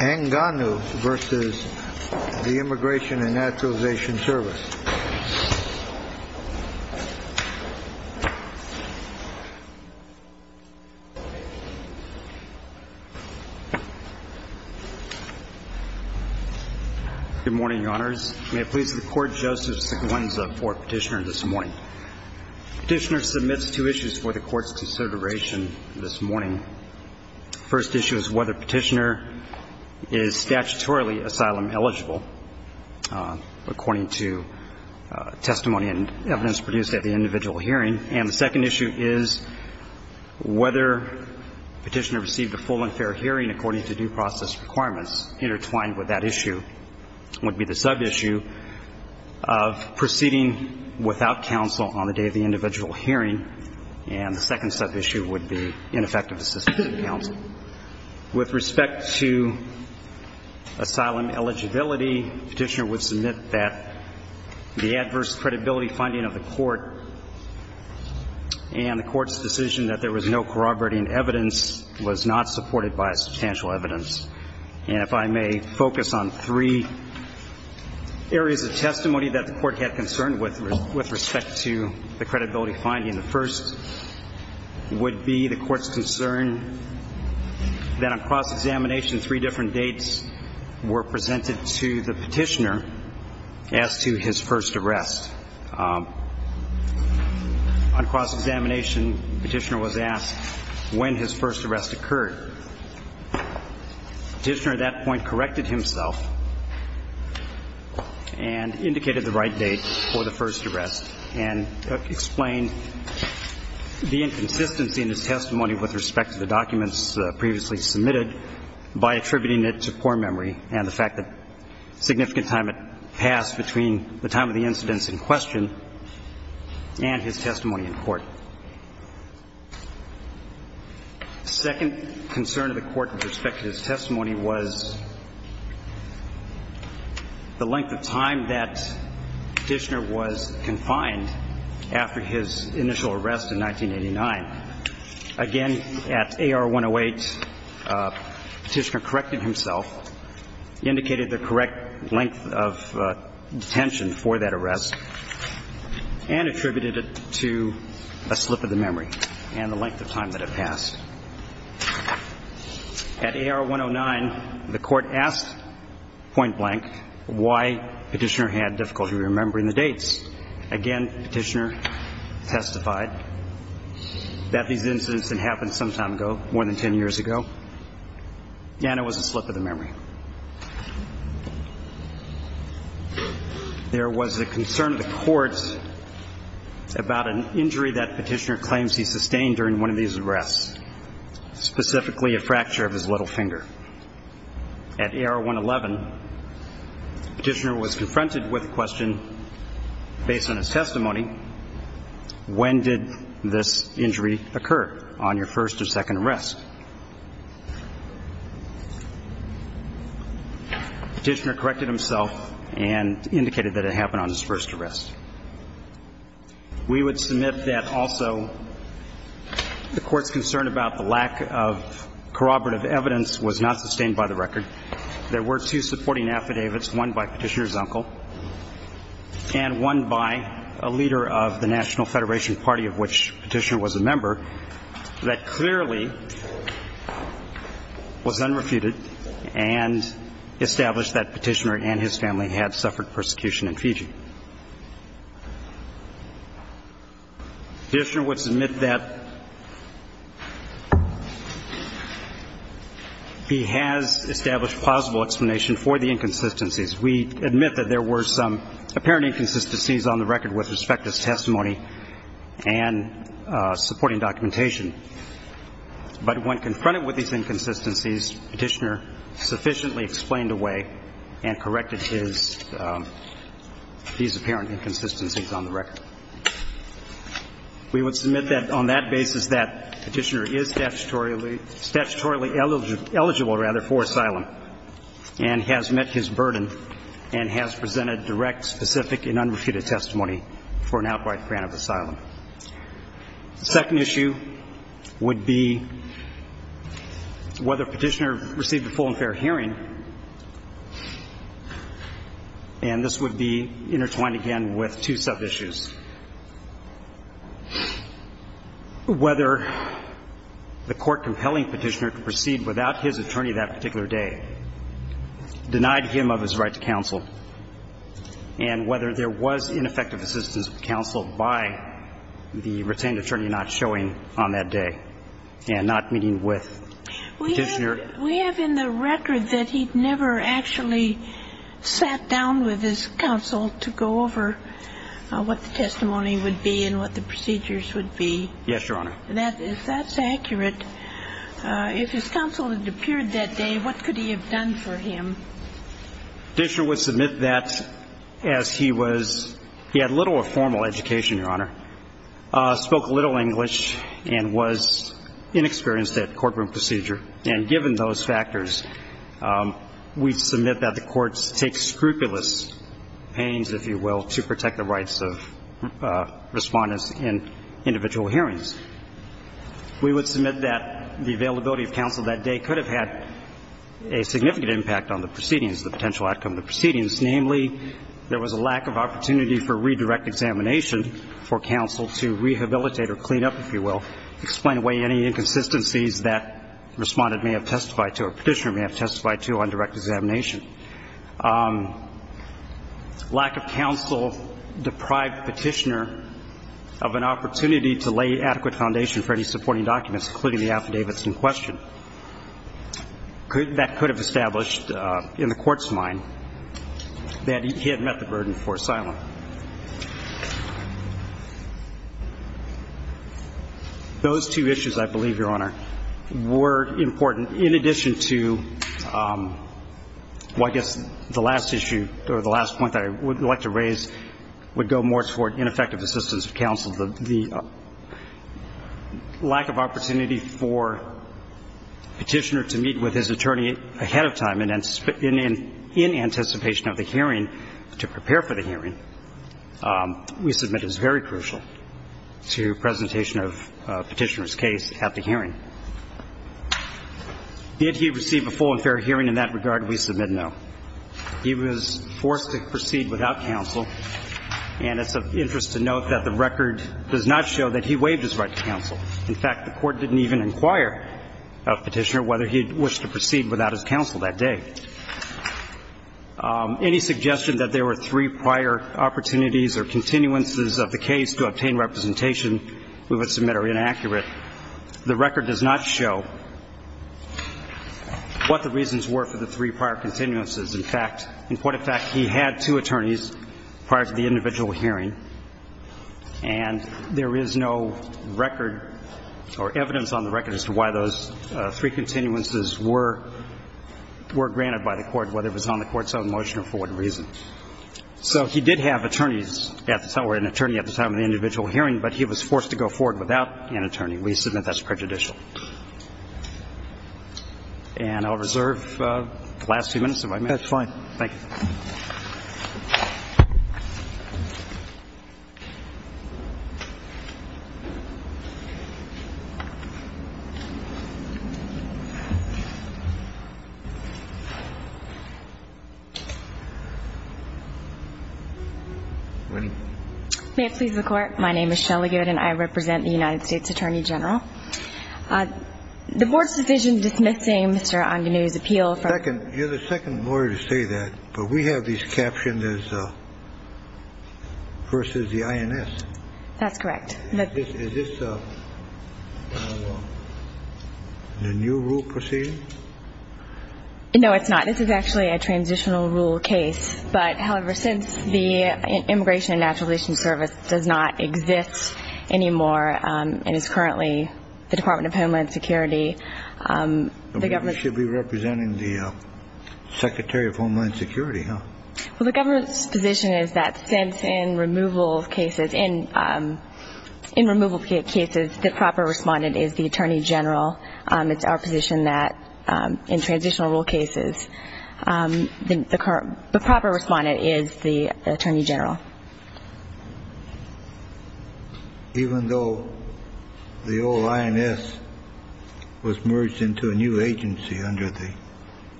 ANGANU v. IMMIGRATION AND NATURALIZATION SERVICE Good morning, Your Honors. May it please the Court, Joseph Seguenza for Petitioner this morning. Petitioner submits two issues for the Court's consideration this morning. The first issue is whether Petitioner is statutorily asylum eligible, according to testimony and evidence produced at the individual hearing. And the second issue is whether Petitioner received a full and fair hearing according to due process requirements. Intertwined with that issue would be the sub-issue of proceeding without counsel on the day of the individual hearing. And the second sub-issue would be ineffective assistance of counsel. With respect to asylum eligibility, Petitioner would submit that the adverse credibility finding of the Court and the Court's decision that there was no corroborating evidence was not supported by substantial evidence. And if I may focus on three areas of testimony that the Court had concern with respect to the credibility finding. The first would be the Court's concern that on cross-examination, three different dates were presented to the Petitioner as to his first arrest. On cross-examination, Petitioner was asked when his first arrest occurred. Petitioner at that point corrected himself and indicated the right date for the first arrest and explained the inconsistency in his testimony with respect to the documents previously submitted by attributing it to poor memory and the fact that significant time had passed between the time of the incidents in question and his testimony in court. The second concern of the Court with respect to his testimony was the length of time that Petitioner was confined after his initial arrest in 1989. Again, at A.R. 108, Petitioner corrected himself, indicated the correct length of detention for that arrest, and attributed it to a slip of the memory and the length of time that had passed. At A.R. 109, the Court asked point blank why Petitioner had difficulty remembering the dates. Again, Petitioner testified that these incidents had happened some time ago, more than ten years ago, and it was a slip of the memory. There was a concern of the Court about an injury that Petitioner claims he sustained during one of these arrests, specifically a fracture of his little finger. At A.R. 111, Petitioner was confronted with a question based on his testimony, when did this injury occur on your first or second arrest? Petitioner corrected himself and indicated that it happened on his first arrest. We would submit that also the Court's concern about the lack of corroborative evidence was not sustained by the record. There were two supporting affidavits, one by Petitioner's uncle and one by a leader of the National Federation Party, of which Petitioner was a member, that clearly was unrefuted and established that Petitioner and his family had suffered persecution in Fiji. Petitioner would submit that he has established plausible explanation for the inconsistencies. We admit that there were some apparent inconsistencies on the record with respect to his testimony and supporting documentation. But when confronted with these inconsistencies, Petitioner sufficiently explained away and corrected these apparent inconsistencies on the record. We would submit that on that basis that Petitioner is statutorily eligible for asylum and has met his burden and has presented direct, specific and unrefuted testimony for an outright grant of asylum. The second issue would be whether Petitioner received a full and fair hearing. And this would be intertwined again with two sub-issues. Whether the Court compelling Petitioner to proceed without his attorney that particular day denied him of his right to counsel and whether there was ineffective assistance of counsel by the retained attorney not showing on that day and not meeting with Petitioner. We have in the record that he never actually sat down with his counsel to go over what the testimony would be and what the procedures would be. Yes, Your Honor. If that's accurate, if his counsel had appeared that day, what could he have done for him? Petitioner would submit that as he was, he had little or formal education, Your Honor, spoke little English and was inexperienced at courtroom procedure. And given those factors, we submit that the courts take scrupulous pains, if you will, to protect the rights of respondents in individual hearings. We would submit that the availability of counsel that day could have had a significant impact on the proceedings, the potential outcome of the proceedings. Namely, there was a lack of opportunity for redirect examination for counsel to rehabilitate or clean up, if you will, explain away any inconsistencies that respondent may have testified to or Petitioner may have testified to on direct examination. Lack of counsel deprived Petitioner of an opportunity to lay adequate foundation for any supporting documents, including the affidavits in question. That could have established in the court's mind that he had met the burden for asylum. Those two issues, I believe, Your Honor, were important in addition to the fact that I guess the last issue or the last point that I would like to raise would go more toward ineffective assistance of counsel. The lack of opportunity for Petitioner to meet with his attorney ahead of time and in anticipation of the hearing to prepare for the hearing, we submit, is very crucial to presentation of Petitioner's case at the hearing. Did he receive a full and fair hearing? In that regard, we submit no. He was forced to proceed without counsel, and it's of interest to note that the record does not show that he waived his right to counsel. In fact, the court didn't even inquire of Petitioner whether he wished to proceed without his counsel that day. Any suggestion that there were three prior opportunities or continuances of the case to obtain representation, we would submit are inaccurate. The record does not show what the reasons were for the three prior continuances. In fact, in point of fact, he had two attorneys prior to the individual hearing, and there is no record or evidence on the record as to why those three continuances were granted by the court, whether it was on the court's own motion or for what reason. So he did have attorneys at the time, or an attorney at the time of the individual hearing, but he was forced to go forward without an attorney. We submit that's prejudicial. And I'll reserve the last few minutes of my minute. That's fine. Thank you. May it please the Court. My name is Shelly Goode, and I represent the United States Attorney General. The Board's decision dismissing Mr. Anganew's appeal for... Second. You're the second lawyer to say that, but we have these captions as versus the INS. That's correct. Is this a new rule proceeding? No, it's not. This is actually a transitional rule case, but, however, since the Immigration and Naturalization Service does not exist anymore and is currently the Department of Homeland Security, the government... You should be representing the Secretary of Homeland Security, huh? Well, the government's position is that since in removal cases the proper respondent is the Attorney General. It's our position that in transitional rule cases the proper respondent is the Attorney General. Even though the old INS was merged into a new agency under the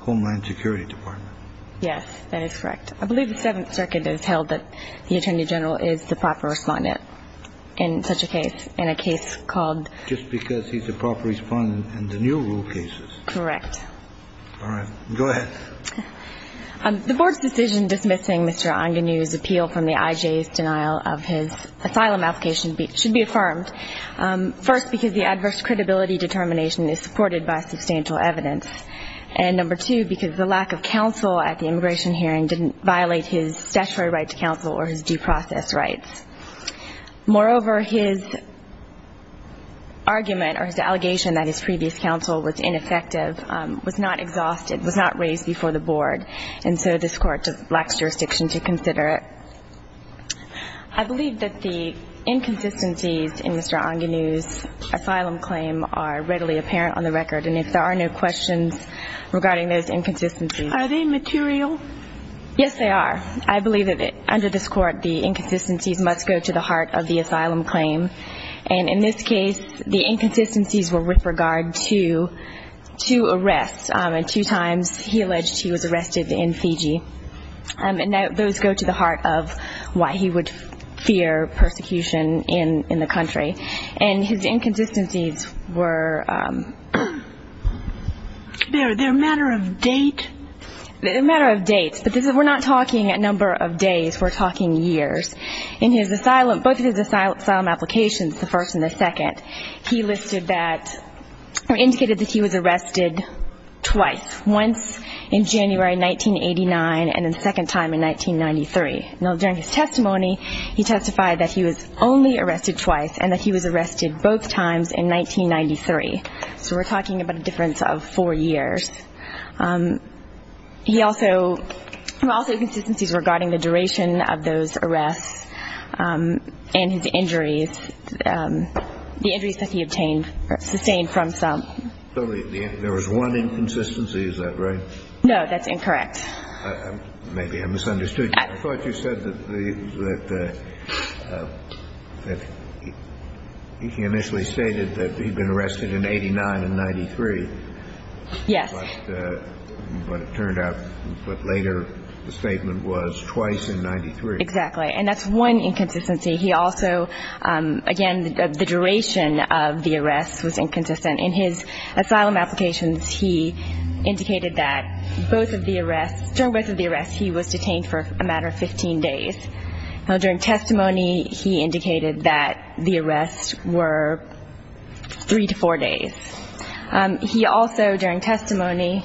Homeland Security Department? Yes, that is correct. I believe the Seventh Circuit has held that the Attorney General is the proper respondent in such a case, in a case called... Just because he's the proper respondent in the new rule cases? Correct. All right. Go ahead. The Board's decision dismissing Mr. Anganew's appeal from the IJ's denial of his asylum application should be affirmed, first, because the adverse credibility determination is supported by substantial evidence, and, number two, because the lack of counsel at the immigration hearing didn't violate his statutory right to counsel or his due process rights. Moreover, his argument or his allegation that his previous counsel was ineffective was not exhausted, was not raised before the Board, and so this Court lacks jurisdiction to consider it. I believe that the inconsistencies in Mr. Anganew's asylum claim are readily apparent on the record, and if there are no questions regarding those inconsistencies... Are they material? Yes, they are. I believe that under this Court, the inconsistencies must go to the heart of the asylum claim, and in this case, the inconsistencies were with regard to two arrests, and two times he alleged he was arrested in Fiji, and those go to the heart of why he would fear persecution in the country, and his inconsistencies were... They're a matter of date? They're a matter of date, but we're not talking a number of days. We're talking years. In both of his asylum applications, the first and the second, he listed that or indicated that he was arrested twice, once in January 1989 and the second time in 1993. Now, during his testimony, he testified that he was only arrested twice and that he was arrested both times in 1993, so we're talking about a difference of four years. He also... Well, also inconsistencies regarding the duration of those arrests and his injuries, the injuries that he obtained or sustained from some. So there was one inconsistency, is that right? No, that's incorrect. Maybe I misunderstood you. I thought you said that he initially stated that he'd been arrested in 89 and 93. Yes. But it turned out later the statement was twice in 93. Exactly, and that's one inconsistency. He also, again, the duration of the arrests was inconsistent. In his asylum applications, he indicated that both of the arrests... During both of the arrests, he was detained for a matter of 15 days. Now, during testimony, he indicated that the arrests were three to four days. He also, during testimony,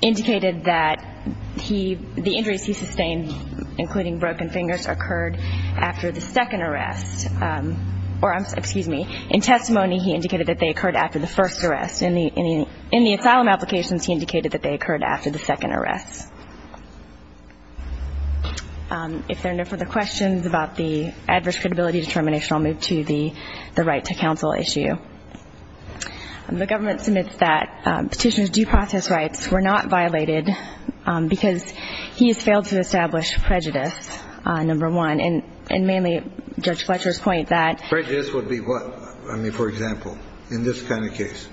indicated that the injuries he sustained, including broken fingers, occurred after the second arrest. Or, excuse me, in testimony, he indicated that they occurred after the first arrest. In the asylum applications, he indicated that they occurred after the second arrest. If there are no further questions about the adverse credibility determination, I'll move to the right to counsel issue. The government submits that petitioner's due process rights were not violated because he has failed to establish prejudice, number one, and mainly Judge Fletcher's point that... Prejudice would be what? I mean, for example, in this kind of case?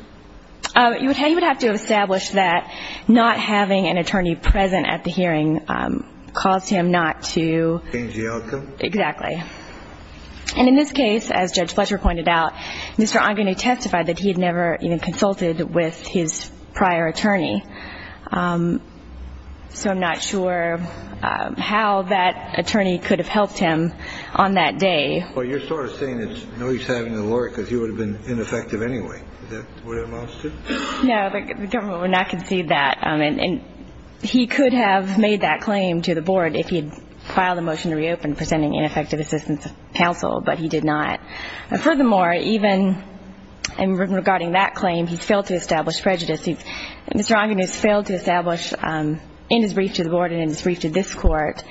You would have to establish that not having an attorney present at the hearing caused him not to... Change the outcome? Exactly. And in this case, as Judge Fletcher pointed out, Mr. Ongine testified that he had never even consulted with his prior attorney. So I'm not sure how that attorney could have helped him on that day. Well, you're sort of saying it's no use having a lawyer because he would have been ineffective anyway. Is that what it amounts to? No, the government would not concede that. And he could have made that claim to the board if he had filed a motion to reopen presenting ineffective assistance to counsel, but he did not. And furthermore, even regarding that claim, he's failed to establish prejudice. Mr. Ongine has failed to establish in his brief to the board and in his brief to this court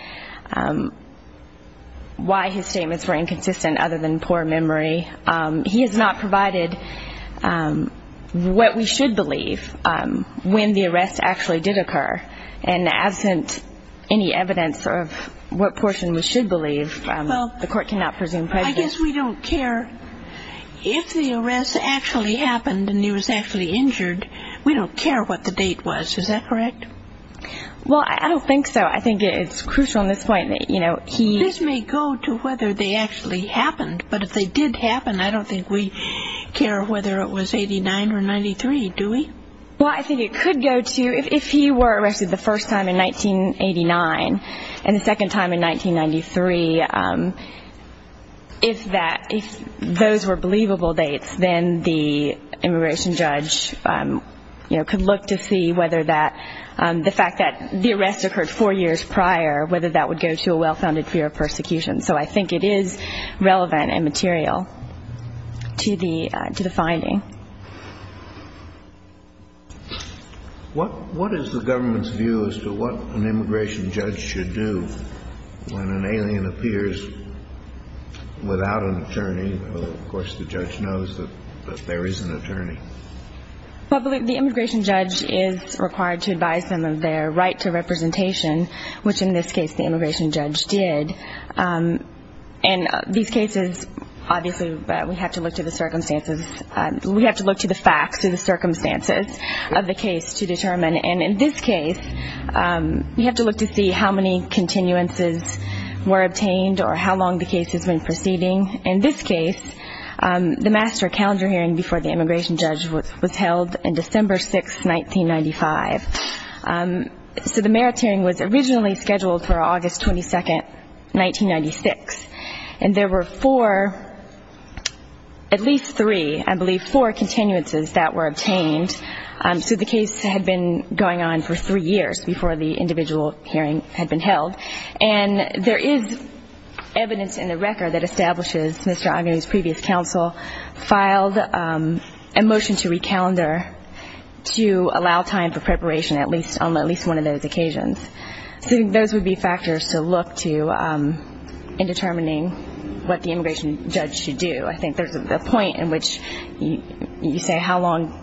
why his statements were inconsistent other than poor memory. He has not provided what we should believe when the arrest actually did occur. And absent any evidence of what portion we should believe, the court cannot presume prejudice. I guess we don't care if the arrest actually happened and he was actually injured. We don't care what the date was. Is that correct? Well, I don't think so. I think it's crucial on this point that he... This may go to whether they actually happened, but if they did happen, I don't think we care whether it was 89 or 93, do we? Well, I think it could go to if he were arrested the first time in 1989 and the second time in 1993, if those were believable dates, then the immigration judge could look to see whether the fact that the arrest occurred four years prior, whether that would go to a well-founded fear of persecution. So I think it is relevant and material to the finding. What is the government's view as to what an immigration judge should do when an alien appears without an attorney? The immigration judge is required to advise them of their right to representation, which in this case the immigration judge did. And these cases, obviously, we have to look to the circumstances. We have to look to the facts and the circumstances of the case to determine. And in this case, we have to look to see how many continuances were obtained or how long the case has been proceeding. In this case, the master calendar hearing before the immigration judge was held on December 6, 1995. So the merits hearing was originally scheduled for August 22, 1996. And there were four, at least three, I believe four continuances that were obtained. So the case had been going on for three years before the individual hearing had been held. And there is evidence in the record that establishes Mr. Agnew's previous counsel filed a motion to recalendar to allow time for preparation at least on at least one of those occasions. So I think those would be factors to look to in determining what the immigration judge should do. I think there's a point in which you say how long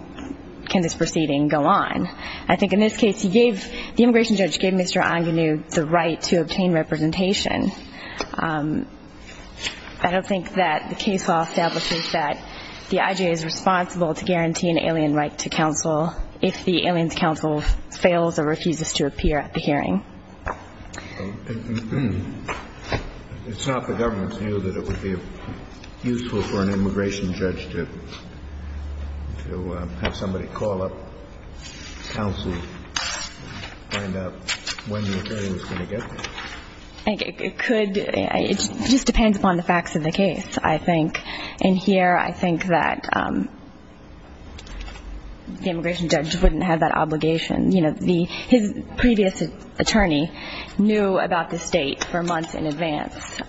can this proceeding go on. I think in this case, the immigration judge gave Mr. Agnew the right to obtain representation. I don't think that the case law establishes that the IJA is responsible to guarantee an alien right to counsel if the alien's counsel fails or refuses to appear at the hearing. It's not the government's view that it would be useful for an immigration judge to have somebody call up counsel to find out when the attorney was going to get there. It could. It just depends upon the facts of the case, I think. And here I think that the immigration judge wouldn't have that obligation. You know, his previous attorney knew about this date for months in advance.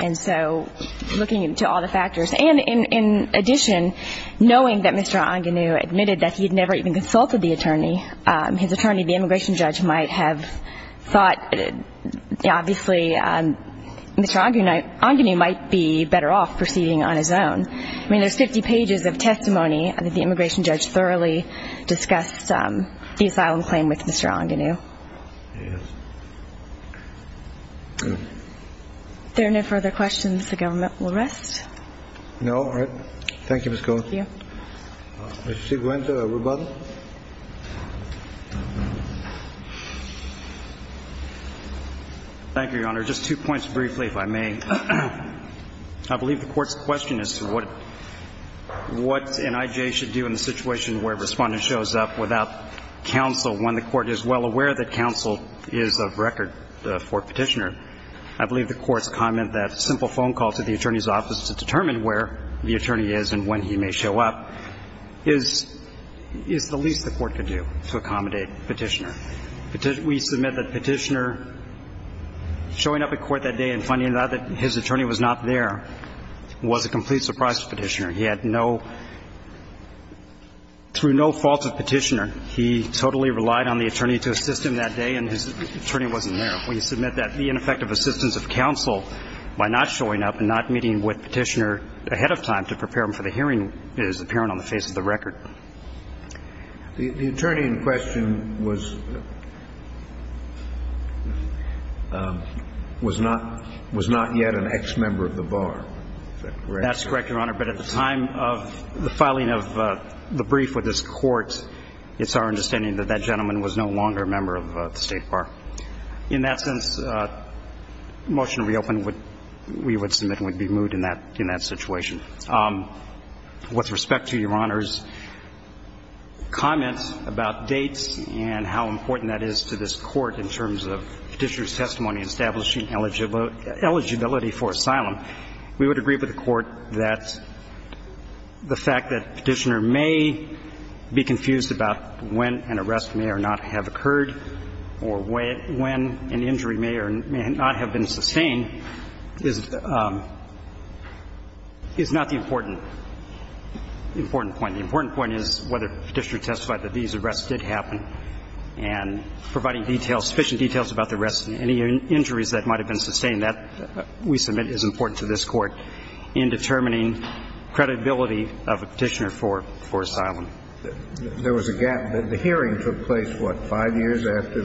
And so looking into all the factors, and in addition, knowing that Mr. Agnew admitted that he had never even consulted the attorney, his attorney, the immigration judge, might have thought, obviously, Mr. Agnew might be better off proceeding on his own. I mean, there's 50 pages of testimony. I think the immigration judge thoroughly discussed the asylum claim with Mr. Agnew. Yes. Good. If there are no further questions, the government will rest. No. All right. Thank you, Ms. Cohen. Thank you. Mr. Ciguenta, rebuttal. Thank you, Your Honor. Just two points briefly, if I may. One, I believe the Court's question as to what NIJ should do in the situation where a Respondent shows up without counsel when the Court is well aware that counsel is of record for Petitioner. I believe the Court's comment that a simple phone call to the attorney's office to determine where the attorney is and when he may show up is the least the Court could do to accommodate Petitioner. We submit that Petitioner showing up at court that day and finding out that his attorney was not there was a complete surprise to Petitioner. He had no – through no fault of Petitioner, he totally relied on the attorney to assist him that day, and his attorney wasn't there. We submit that the ineffective assistance of counsel by not showing up and not meeting with Petitioner ahead of time to prepare him for the hearing is apparent on the face of the record. The attorney in question was not yet an ex-member of the Bar. Is that correct? That's correct, Your Honor. But at the time of the filing of the brief with this Court, it's our understanding that that gentleman was no longer a member of the State Bar. In that sense, the motion to reopen we would submit would be moved in that situation. With respect to Your Honor's comment about dates and how important that is to this Court in terms of Petitioner's testimony in establishing eligibility for asylum, we would agree with the Court that the fact that Petitioner may be confused about when an arrest may or not have occurred or when an injury may or may not have been sustained is not the important point. The important point is whether Petitioner testified that these arrests did happen and providing sufficient details about the arrests and any injuries that might have been sustained, that we submit is important to this Court in determining credibility of a Petitioner for asylum. There was a gap. The hearing took place, what, five years after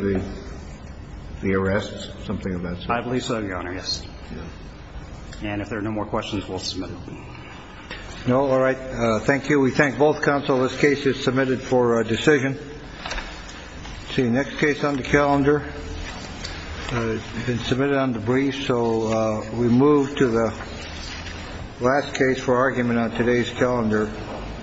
the arrests, something of that sort? I believe so, Your Honor, yes. And if there are no more questions, we'll submit it. All right. Thank you. We thank both counsel. This case is submitted for decision. The next case on the calendar has been submitted on the brief. So we move to the last case for argument on today's calendar.